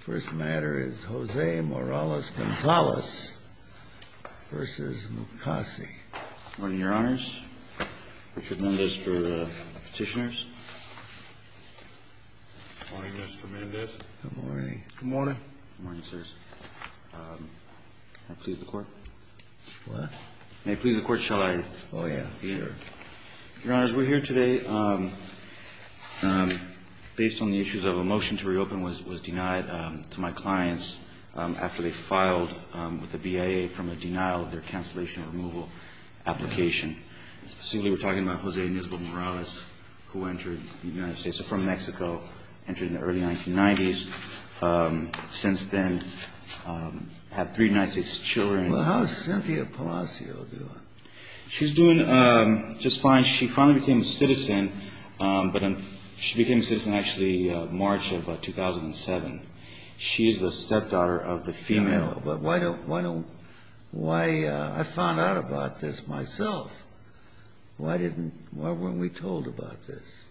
First matter is Jose Morales Gonzalez v. Mukasey. Good morning, your honors. Richard Mendez for petitioners. Good morning, Mr. Mendez. Good morning. Good morning. Good morning, sirs. May I please the court? What? May I please the court, shall I? Oh, yeah. Your honors, we're here today based on the issues of a motion to reopen was denied to my clients after they filed with the BIA from a denial of their cancellation removal application. Specifically, we're talking about Jose Ines Morales, who entered the United States from Mexico, entered in the early 1990s. Since then, had three United States children. Well, how's Cynthia Palacio doing? She's doing just fine. She finally became a citizen, but she became a citizen, actually, March of 2007. She is the stepdaughter of the female. But why don't, why don't, why, I found out about this myself. Why didn't, why weren't we told about this?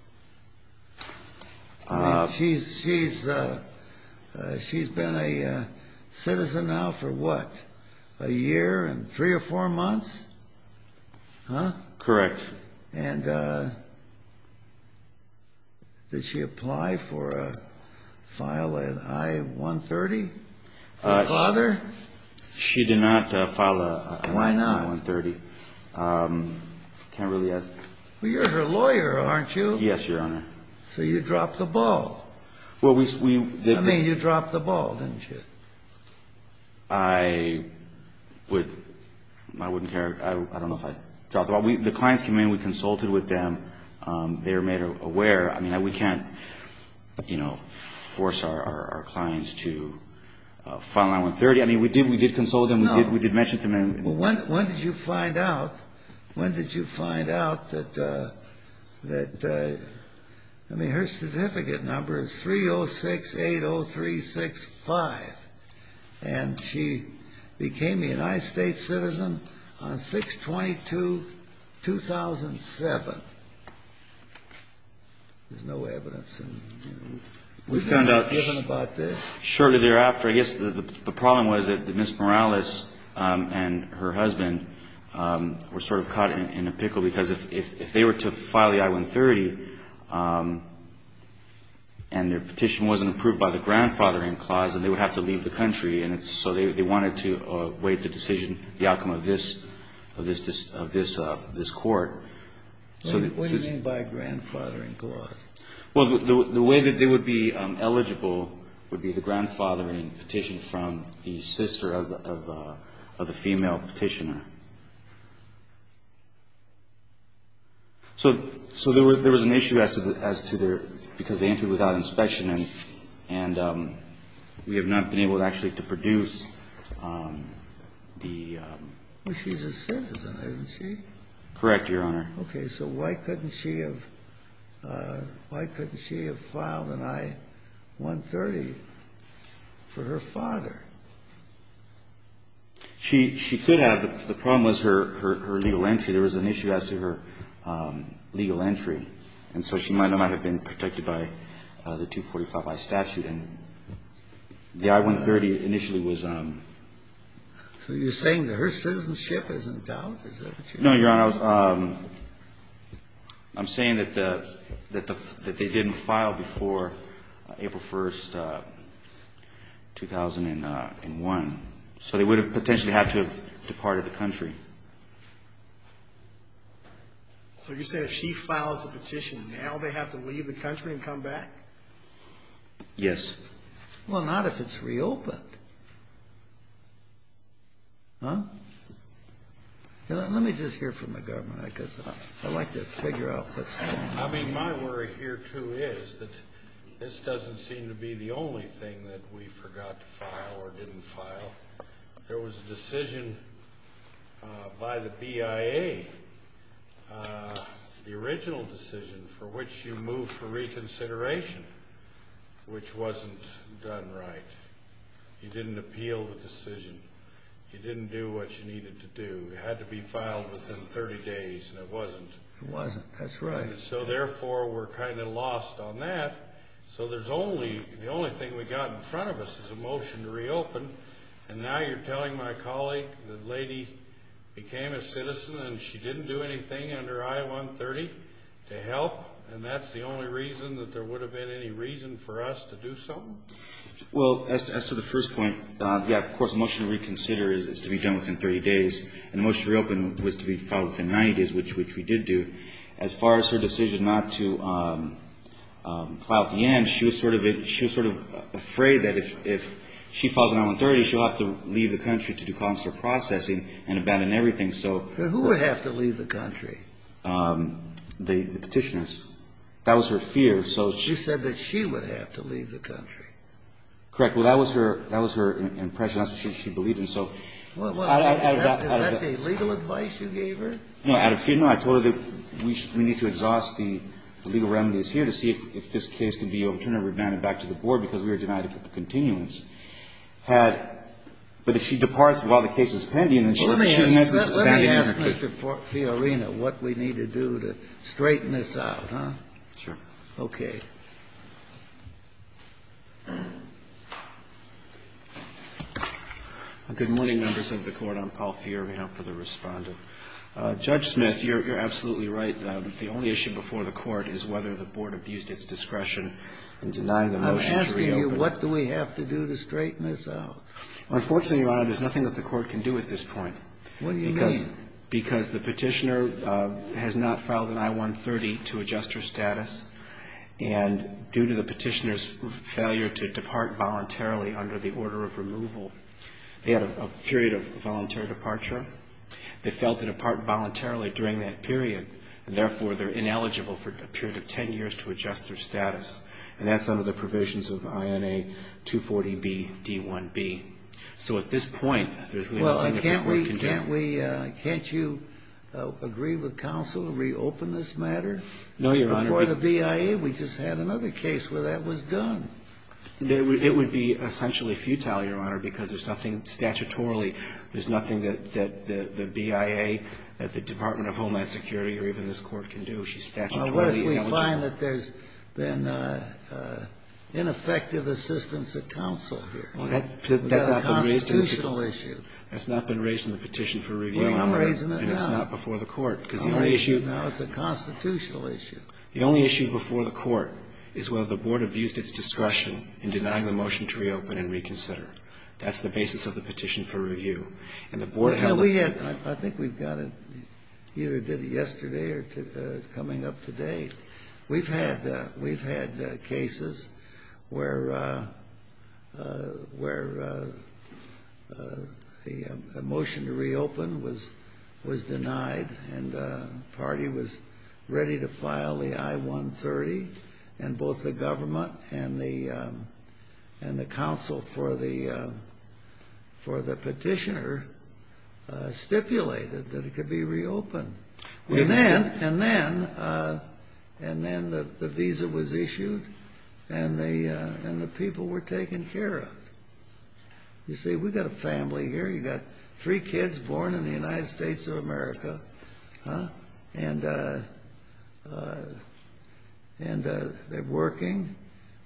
I mean, she's, she's, she's been a citizen now for what, a year and three or four months? Huh? Correct. And did she apply for a, file an I-130 for her father? She did not file an I-130. Why not? Can't really ask. Well, you're her lawyer, aren't you? Yes, Your Honor. So you dropped the ball. Well, we, we. I mean, you dropped the ball, didn't you? I would, I wouldn't care. I don't know if I dropped the ball. We, the clients came in. We consulted with them. They were made aware. I mean, we can't, you know, force our clients to file an I-130. I mean, we did, we did consult them. No. We did, we did mention to them. Well, when, when did you find out, when did you find out that, that, I mean, her certificate number is 30680365. And she became a United States citizen on 6-22-2007. There's no evidence. We found out shortly thereafter. I guess the problem was that Ms. Morales and her husband were sort of caught in a pickle because if they were to file the I-130 and their petition wasn't approved by the grandfathering clause, then they would have to leave the country. And so they wanted to waive the decision, the outcome of this, of this, of this, of this court. What do you mean by grandfathering clause? Well, the way that they would be eligible would be the grandfathering petition from the sister of the, of the female petitioner. So, so there was an issue as to, as to their, because they entered without inspection and, and we have not been able to actually to produce the. Well, she's a citizen, isn't she? Correct, Your Honor. Okay. So why couldn't she have, why couldn't she have filed an I-130 for her father? She, she could have. The problem was her, her legal entry. There was an issue as to her legal entry. And so she might not have been protected by the 245i statute. And the I-130 initially was. So you're saying that her citizenship is in doubt? No, Your Honor. I was, I'm saying that the, that the, that they didn't file before April 1st, 2001. So they would have potentially had to have departed the country. So you're saying if she files a petition now, they have to leave the country and come back? Yes. Well, not if it's reopened. Huh? Let me just hear from the government, because I'd like to figure out what's going on. I mean, my worry here, too, is that this doesn't seem to be the only thing that we forgot to file or didn't file. There was a decision by the BIA, the original decision, for which you moved for reconsideration, which wasn't done right. You didn't appeal the decision. You didn't do what you needed to do. It had to be filed within 30 days, and it wasn't. It wasn't. That's right. So, therefore, we're kind of lost on that. So there's only, the only thing we've got in front of us is a motion to reopen. And now you're telling my colleague the lady became a citizen and she didn't do anything under I-130 to help? And that's the only reason that there would have been any reason for us to do something? Well, as to the first point, yeah, of course, the motion to reconsider is to be done within 30 days. And the motion to reopen was to be filed within 90 days, which we did do. As far as her decision not to file at the end, she was sort of afraid that if she falls on I-130, she'll have to leave the country to do consular processing and abandon everything. But who would have to leave the country? The Petitioners. That was her fear. You said that she would have to leave the country. Correct. Well, that was her impression. That's what she believed. And so I don't have that. Is that the legal advice you gave her? No. I told her that we need to exhaust the legal remedies here to see if this case can be overturned or remanded back to the Board because we were denied a continuance. But if she departs while the case is pending, then she has this abandonment. Let me ask Mr. Fiorina what we need to do to straighten this out. Sure. Okay. Good morning, members of the Court. I'm Paul Fiorina for the Respondent. Judge Smith, you're absolutely right. The only issue before the Court is whether the Board abused its discretion in denying the motion to reopen. I'm asking you what do we have to do to straighten this out? Unfortunately, Your Honor, there's nothing that the Court can do at this point. What do you mean? Because the Petitioner has not filed an I-130 to adjust her status. And due to the Petitioner's failure to depart voluntarily under the order of removal, they had a period of voluntary departure. They failed to depart voluntarily during that period. And therefore, they're ineligible for a period of 10 years to adjust their status. And that's under the provisions of INA 240B-D1B. So at this point, there's really nothing that the Court can do. Well, can't we – can't you agree with counsel to reopen this matter? No, Your Honor. Before the BIA, we just had another case where that was done. It would be essentially futile, Your Honor, because there's nothing statutorily – there's nothing that the BIA, that the Department of Homeland Security, or even this Court can do. She's statutorily ineligible. Well, what if we find that there's been ineffective assistance of counsel here? Well, that's not been raised in the Petition. That's a constitutional issue. That's not been raised in the Petition for Review. Well, I'm raising it now. And it's not before the Court. Because the only issue – I'm raising it now. It's a constitutional issue. The only issue before the Court is whether the Board abused its discretion in denying the motion to reopen and reconsider. That's the basis of the Petition for Review. And the Board held – Well, we had – I think we got it – either did it yesterday or coming up today. We've had cases where a motion to reopen was denied and the party was ready to file the I-130. And both the government and the counsel for the petitioner stipulated that it could be reopened. And then the visa was issued and the people were taken care of. You see, we've got a family here. You've got three kids born in the United States of America. And they're working.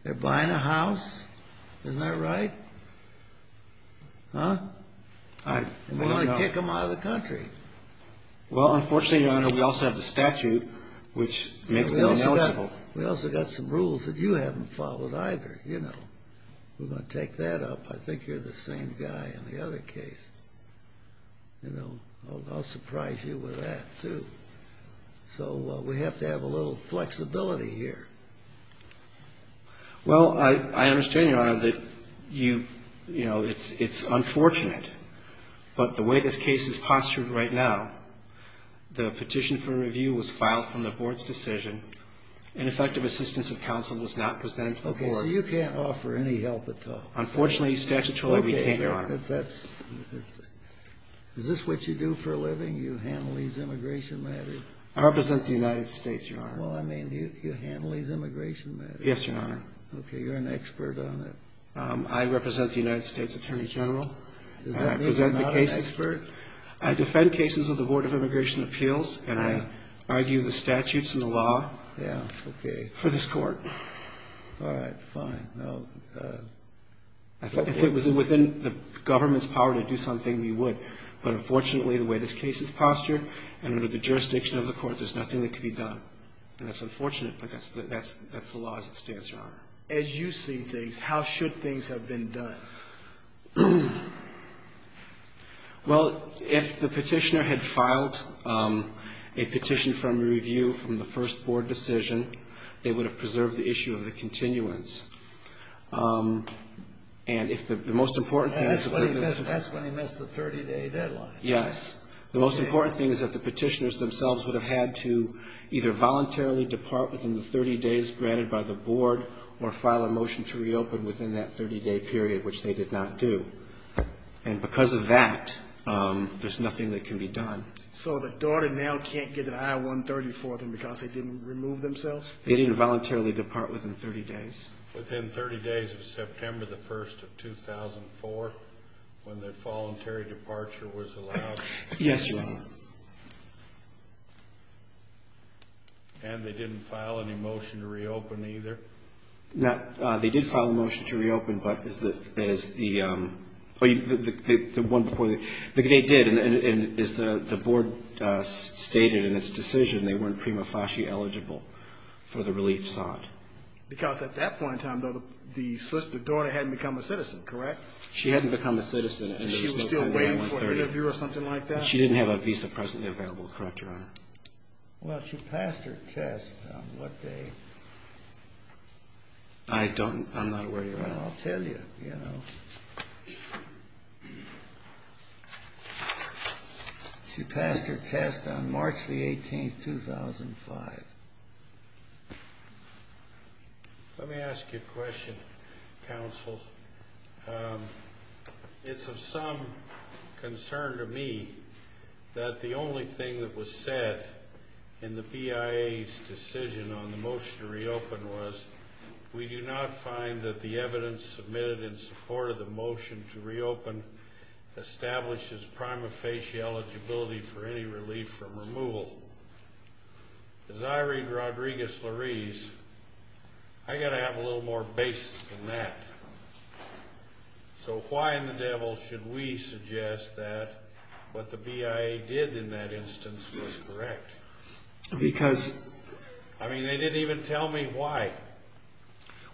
They're buying a house. Isn't that right? And they want to kick them out of the country. Well, unfortunately, Your Honor, we also have the statute, which makes them eligible. We also got some rules that you haven't followed either. You know, we're going to take that up. I think you're the same guy in the other case. You know, I'll surprise you with that too. So we have to have a little flexibility here. Well, I understand, Your Honor, that you – you know, it's unfortunate. But the way this case is postured right now, the petition for review was filed from the board's decision. Ineffective assistance of counsel was not presented to the board. Okay, so you can't offer any help at all. Unfortunately, statutorily, we can't, Your Honor. Okay, but that's – is this what you do for a living? You handle these immigration matters? I represent the United States, Your Honor. Well, I mean, you handle these immigration matters. Yes, Your Honor. Okay, you're an expert on it. I represent the United States Attorney General. Is that it? You're not an expert? I defend cases of the Board of Immigration Appeals, and I argue the statutes and the law for this court. All right, fine. If it was within the government's power to do something, we would. But unfortunately, the way this case is postured and under the jurisdiction of the court, there's nothing that can be done. And that's unfortunate, but that's the law as it stands, Your Honor. As you see things, how should things have been done? Well, if the petitioner had filed a petition from review from the first board decision, they would have preserved the issue of the continuance. And if the most important thing is – And that's when he missed the 30-day deadline. Yes. The most important thing is that the petitioners themselves would have had to either voluntarily depart within the 30 days granted by the board or file a motion to reopen within that 30-day period, which they did not do. And because of that, there's nothing that can be done. So the daughter now can't get an I-130 for them because they didn't remove themselves? They didn't voluntarily depart within 30 days. Within 30 days of September the 1st of 2004, when the voluntary departure was allowed? Yes, Your Honor. And they didn't file any motion to reopen either? They did file a motion to reopen, but as the – the one before the – they did, and as the board stated in its decision, they weren't prima facie eligible for the relief sought. Because at that point in time, though, the daughter hadn't become a citizen, correct? She hadn't become a citizen and there was no I-130. And she was still waiting for an interview or something like that? She didn't have a visa presently available, correct, Your Honor? Well, she passed her test on what day? I don't – I'm not aware, Your Honor. I'll tell you, you know. She passed her test on March the 18th, 2005. Let me ask you a question, counsel. It's of some concern to me that the only thing that was said in the BIA's decision on the motion to reopen was, we do not find that the evidence submitted in support of the motion to reopen establishes prima facie eligibility for any relief from removal. As I read Rodriguez-Larise, I've got to have a little more basis than that. So why in the devil should we suggest that what the BIA did in that instance was correct? Because – I mean, they didn't even tell me why.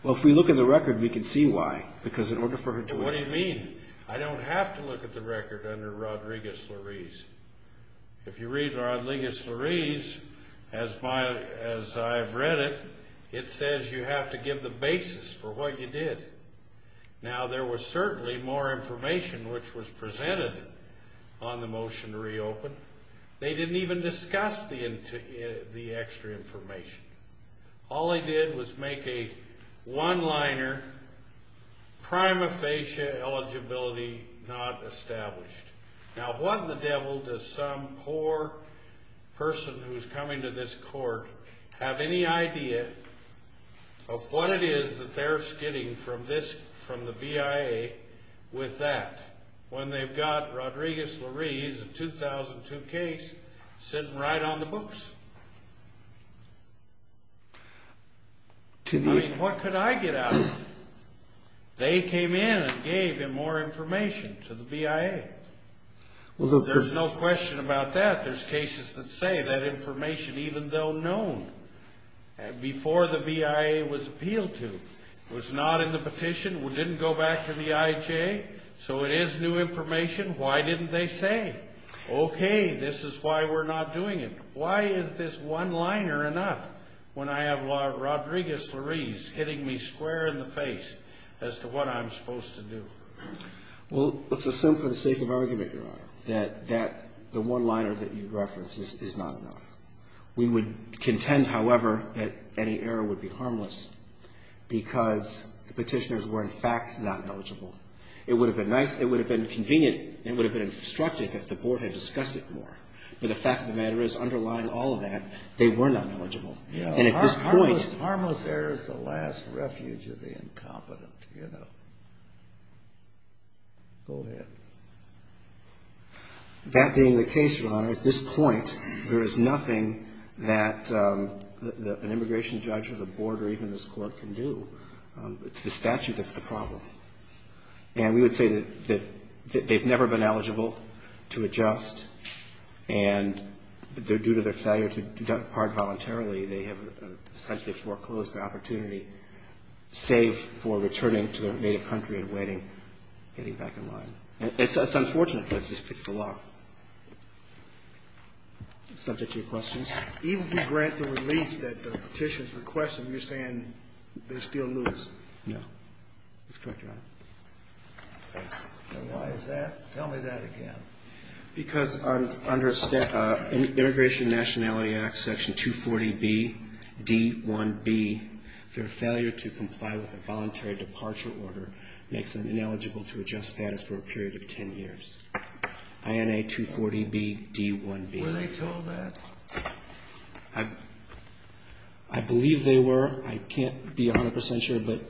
Well, if we look at the record, we can see why. Because in order for her to – What do you mean? I don't have to look at the record under Rodriguez-Larise. If you read Rodriguez-Larise, as I've read it, it says you have to give the basis for what you did. Now, there was certainly more information which was presented on the motion to reopen. They didn't even discuss the extra information. All they did was make a one-liner, prima facie eligibility not established. Now, what in the devil does some poor person who's coming to this court have any idea of what it is that they're skidding from the BIA with that when they've got Rodriguez-Larise, a 2002 case, sitting right on the books? I mean, what could I get out of it? They came in and gave him more information to the BIA. There's no question about that. There's cases that say that information, even though known, before the BIA was appealed to, was not in the petition, didn't go back to the IHA, so it is new information. Why didn't they say, okay, this is why we're not doing it? Why is this one-liner enough when I have Rodriguez-Larise hitting me square in the face as to what I'm supposed to do? Well, let's assume for the sake of argument, Your Honor, that the one-liner that you reference is not enough. We would contend, however, that any error would be harmless because the petitioners were, in fact, not eligible. It would have been nice, it would have been convenient, it would have been instructive if the Board had discussed it more. But the fact of the matter is, underlying all of that, they were not eligible. And at this point… of the incompetent, you know. Go ahead. That being the case, Your Honor, at this point, there is nothing that an immigration judge or the Board or even this Court can do. It's the statute that's the problem. And we would say that they've never been eligible to adjust, and due to their failure to depart voluntarily, they have essentially foreclosed the opportunity, save for returning to their native country and waiting, getting back in line. And it's unfortunate because it's the law. Subject to your questions? Even if you grant the relief that the petitioners request, are you saying they still lose? No. That's correct, Your Honor. Why is that? Tell me that again. Because under Immigration and Nationality Act Section 240BD1B, their failure to comply with a voluntary departure order makes them ineligible to adjust status for a period of 10 years. INA 240BD1B. Were they told that? I believe they were. I can't be 100 percent sure, but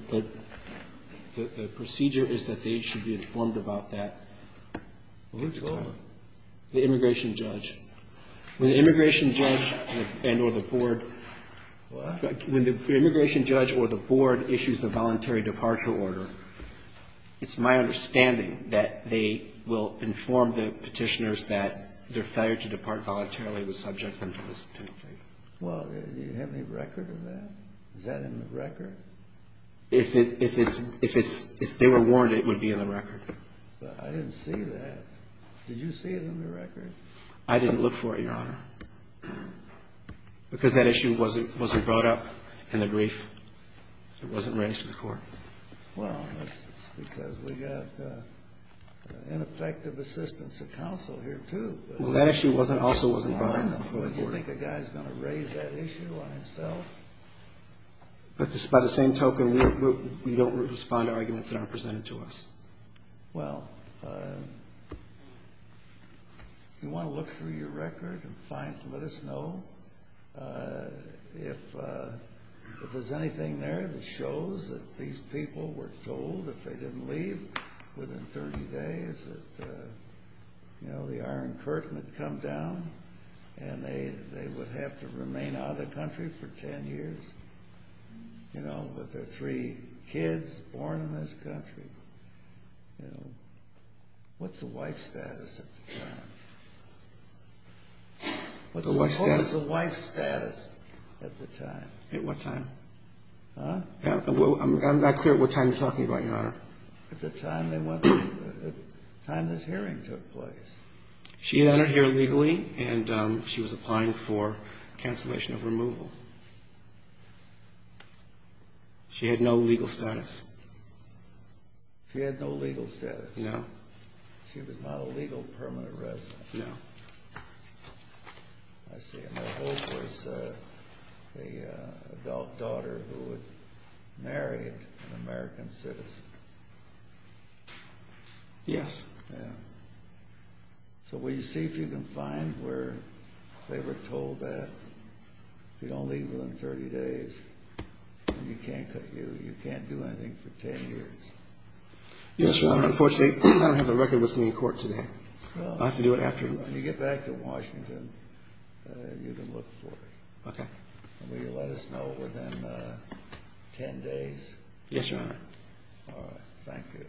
the procedure is that they should be informed about that. Who told them? The immigration judge. When the immigration judge and or the board. What? When the immigration judge or the board issues the voluntary departure order, it's my understanding that they will inform the petitioners that their failure to depart voluntarily was subject them to this penalty. Well, do you have any record of that? Is that in the record? I didn't see that. Did you see it in the record? I didn't look for it, Your Honor, because that issue wasn't brought up in the brief. It wasn't raised to the court. Well, that's because we got ineffective assistance of counsel here, too. Well, that issue also wasn't brought up before the court. Do you think a guy's going to raise that issue on himself? But by the same token, we don't respond to arguments that aren't presented to us. Well, if you want to look through your record and find it, let us know. If there's anything there that shows that these people were told if they didn't leave within 30 days that, you know, the Iron Curtain had come down and they would have to remain out of the country for 10 years, you know, with their three kids born in this country, you know, what's the wife status at the time? What's the wife status at the time? At what time? Huh? I'm not clear at what time you're talking about, Your Honor. At the time this hearing took place. She entered here legally, and she was applying for cancellation of removal. She had no legal status. She had no legal status? No. She was not a legal permanent resident? No. I see. And her hope was an adult daughter who would marry an American citizen. Yes. So will you see if you can find where they were told that if you don't leave within 30 days, you can't do anything for 10 years? Yes, Your Honor. Unfortunately, I don't have the record with me in court today. I'll have to do it after. When you get back to Washington, you can look for it. Okay. Will you let us know within 10 days? Yes, Your Honor. All right. Thank you.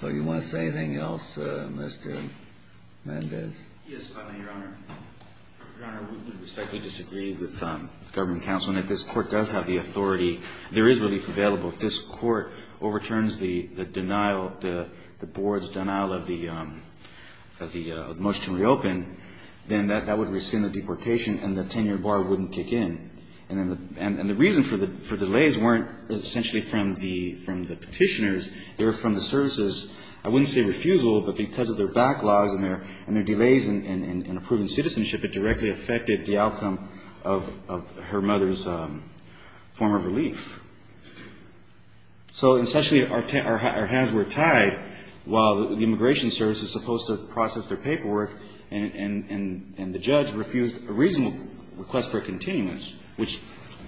So you want to say anything else, Mr. Mendez? Yes, Your Honor. Your Honor, we respectfully disagree with government counsel. And if this Court does have the authority, there is relief available. If this Court overturns the denial, the board's denial of the motion to reopen, then that would rescind the deportation, and the 10-year bar wouldn't kick in. And the reason for delays weren't essentially from the petitioners. They were from the services. I wouldn't say refusal, but because of their backlogs and their delays in approving citizenship, it directly affected the outcome of her mother's form of relief. So essentially, our hands were tied while the immigration service is supposed to process their paperwork, and the judge refused a reasonable request for a continuance, which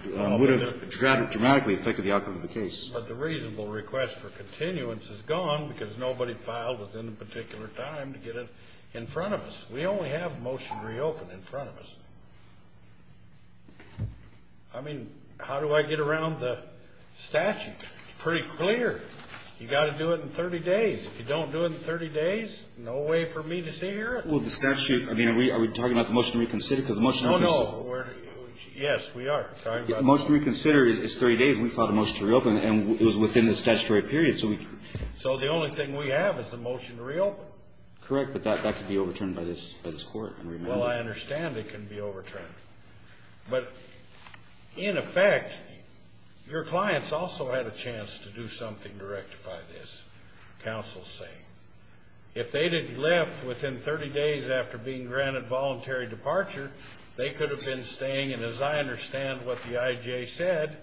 would have dramatically affected the outcome of the case. But the reasonable request for continuance is gone because nobody filed within a particular time to get it in front of us. We only have a motion to reopen in front of us. I mean, how do I get around the statute? It's pretty clear. You've got to do it in 30 days. If you don't do it in 30 days, no way for me to sit here. Well, the statute, I mean, are we talking about the motion to reconsider? Oh, no. Yes, we are. The motion to reconsider is 30 days. We filed a motion to reopen, and it was within the statutory period. So the only thing we have is the motion to reopen. Correct, but that could be overturned by this Court. Well, I understand it can be overturned. But, in effect, your clients also had a chance to do something to rectify this, counsel is saying. If they didn't left within 30 days after being granted voluntary departure, they could have been staying. And as I understand what the IJ said,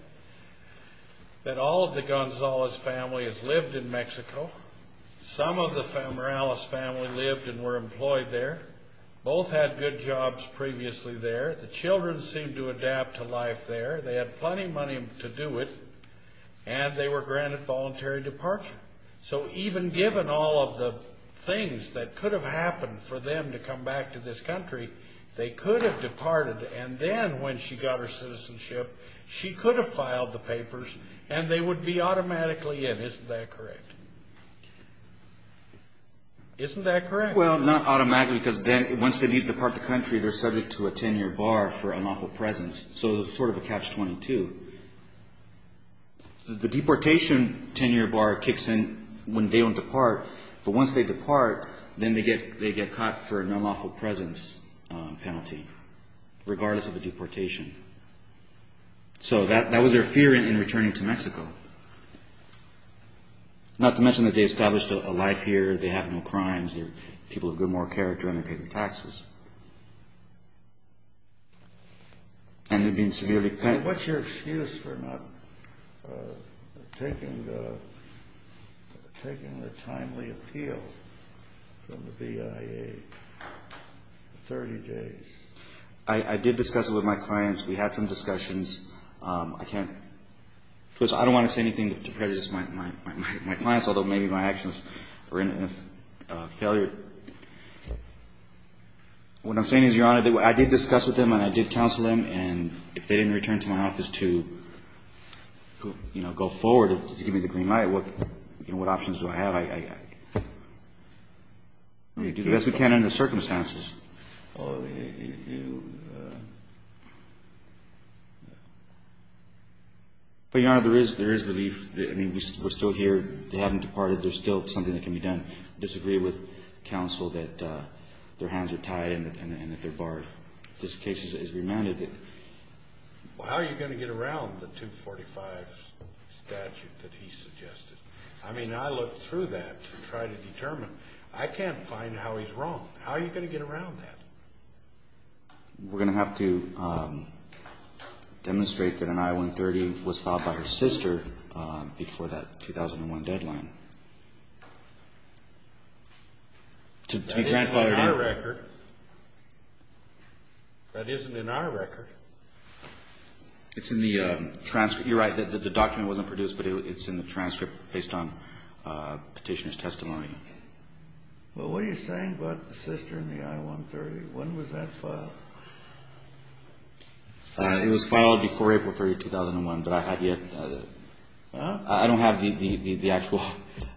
that all of the Gonzalez family has lived in Mexico. Some of the Morales family lived and were employed there. Both had good jobs previously there. The children seemed to adapt to life there. They had plenty of money to do it, and they were granted voluntary departure. So even given all of the things that could have happened for them to come back to this country, they could have departed. And then when she got her citizenship, she could have filed the papers, and they would be automatically in. Isn't that correct? Isn't that correct? Well, not automatically, because then once they depart the country, they're subject to a 10-year bar for unlawful presence. So it's sort of a catch-22. The deportation 10-year bar kicks in when they don't depart. But once they depart, then they get caught for an unlawful presence penalty, regardless of the deportation. Not to mention that they established a life here. They have no crimes here. People have good moral character, and they're paying taxes. And they're being severely penalized. What's your excuse for not taking the timely appeal from the BIA for 30 days? I did discuss it with my clients. We had some discussions. I don't want to say anything that prejudices my clients, although maybe my actions were in a failure. What I'm saying is, Your Honor, I did discuss with them, and I did counsel them. And if they didn't return to my office to go forward to give me the green light, what options do I have? I do the best we can under the circumstances. But, Your Honor, there is relief. I mean, we're still here. They haven't departed. There's still something that can be done. I disagree with counsel that their hands are tied and that they're barred. This case is remanded. Well, how are you going to get around the 245 statute that he suggested? I mean, I looked through that to try to determine. I can't find how he's wrong. How are you going to get around that? We're going to have to demonstrate that an I-130 was filed by her sister before that 2001 deadline. That isn't in our record. That isn't in our record. It's in the transcript. You're right. The document wasn't produced, but it's in the transcript based on Petitioner's testimony. Well, what are you saying about the sister and the I-130? When was that filed? It was filed before April 30, 2001, but I have yet to do that. I don't have the actual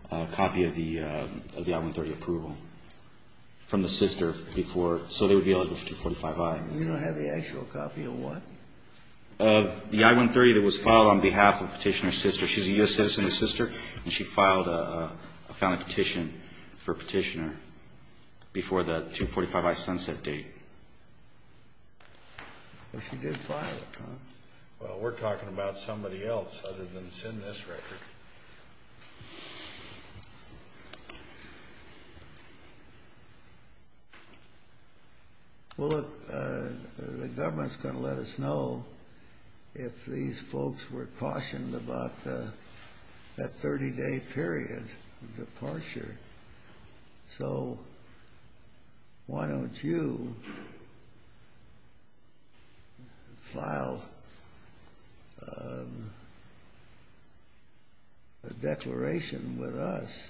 copy of the I-130 approval from the sister before. So they would be eligible for 245I. You don't have the actual copy of what? Of the I-130 that was filed on behalf of Petitioner's sister. She's a U.S. citizen's sister, and she filed a founding petition for Petitioner before that 245I sunset date. Well, she did file it, huh? Well, we're talking about somebody else other than that's in this record. Well, look, the government's going to let us know if these folks were cautioned about that 30-day period of departure. So why don't you file a declaration with us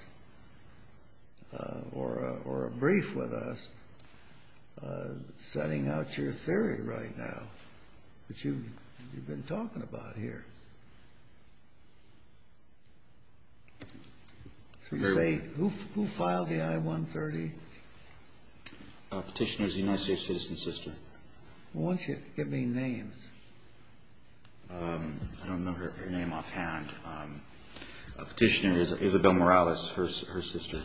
or a brief with us setting out your theory right now that you've been talking about here? Who filed the I-130? Petitioner's United States citizen's sister. Why don't you give me names? I don't know her name offhand. Petitioner is Isabel Morales, her sister.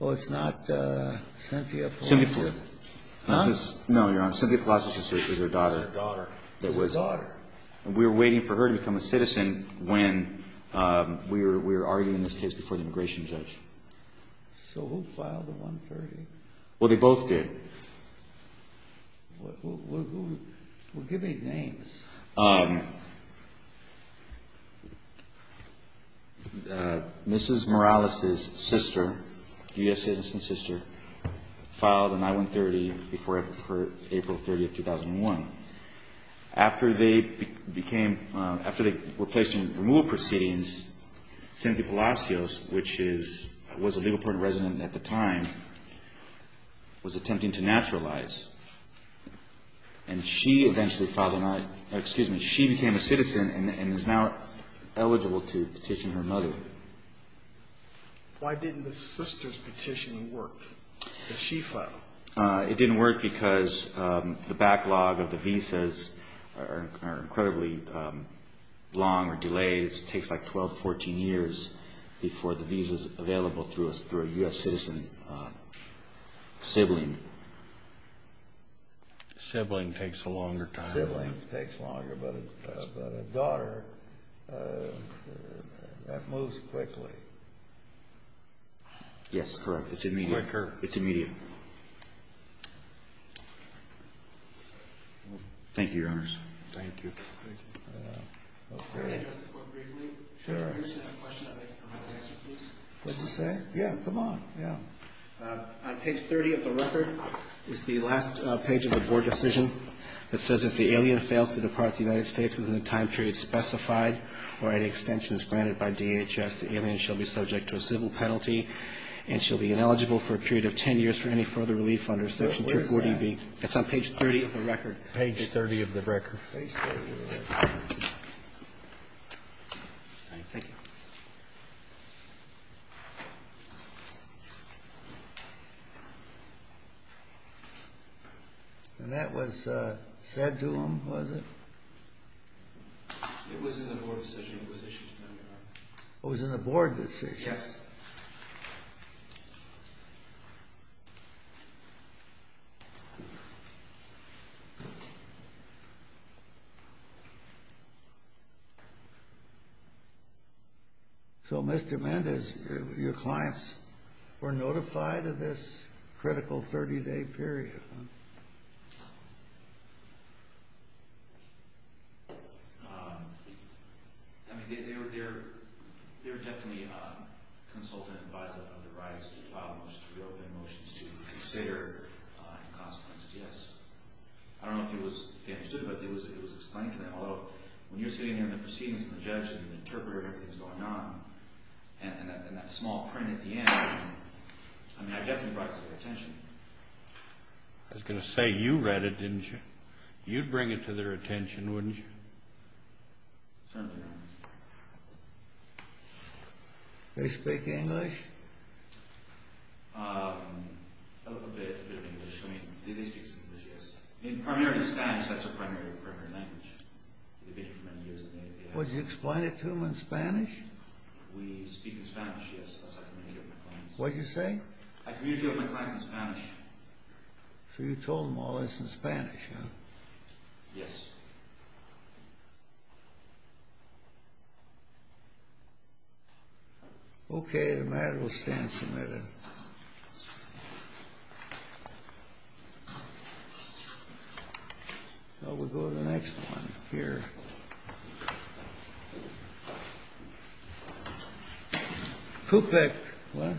Oh, it's not Cynthia Palacios? Huh? No, you're on. No, Cynthia Palacios is her daughter. Is her daughter. We were waiting for her to become a citizen when we were arguing this case before the immigration judge. So who filed the I-130? Well, they both did. Well, give me names. Mrs. Morales's sister, U.S. citizen's sister, filed an I-130 before April 30th, 2001. After they were placed in removal proceedings, Cynthia Palacios, which was a Leopold resident at the time, was attempting to naturalize. And she eventually filed an I, excuse me, she became a citizen and is now eligible to petition her mother. Why didn't the sister's petition work that she filed? It didn't work because the backlog of the visas are incredibly long or delays. It takes like 12, 14 years before the visa's available through a U.S. citizen sibling. Sibling takes a longer time. Sibling takes longer, but a daughter, that moves quickly. Yes, correct. It's immediate. It's quicker. Thank you, Your Honors. Thank you. Can I address the Court briefly? Sure. I have a question I think I'm allowed to answer, please. What'd you say? Yeah, come on, yeah. On page 30 of the record is the last page of the Board decision that says, if the alien fails to depart the United States within the time period specified or any extensions granted by DHS, the alien shall be subject to a civil penalty and shall be ineligible for a period of 10 years for any further relief under Section 240B. Where is that? It's on page 30 of the record. Page 30 of the record. Page 30 of the record. Thank you. And that was said to him, was it? It was in the Board decision. It was issued to him, Your Honor. It was in the Board decision? Yes. So, Mr. Mendez, your clients were notified of this critical 30-day period, huh? I mean, they were definitely consulted and advised otherwise to file motions to consider and, as a consequence, yes. I don't know if they understood, but it was explained to them. Although, when you're sitting there in the proceedings and the judge and the interpreter and everything's going on, and that small print at the end, I mean, I definitely brought it to their attention. I was going to say you read it, didn't you? You'd bring it to their attention, wouldn't you? Certainly, Your Honor. They speak English? A little bit of English. I mean, they speak some English, yes. I mean, primarily Spanish. That's their primary language. They've been here for many years. Was it explained to them in Spanish? We speak in Spanish, yes. What did you say? I communicate with my clients in Spanish. So you told them all this in Spanish, huh? Yes. Okay. The matter will stand submitted. Shall we go to the next one here? CUPEC. What? CUPEC.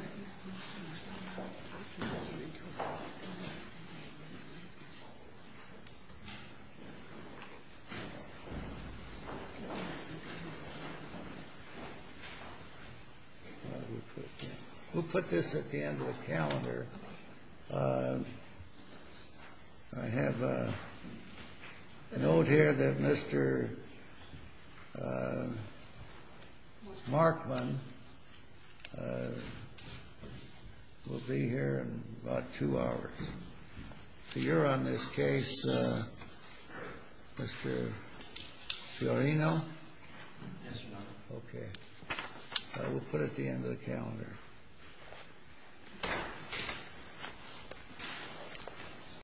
We'll put this at the end of the calendar. I have a note here that Mr. Markman will be here in about two hours. So you're on this case, Mr. Fiorino? Yes, Your Honor. Okay. We'll put it at the end of the calendar. Thank you.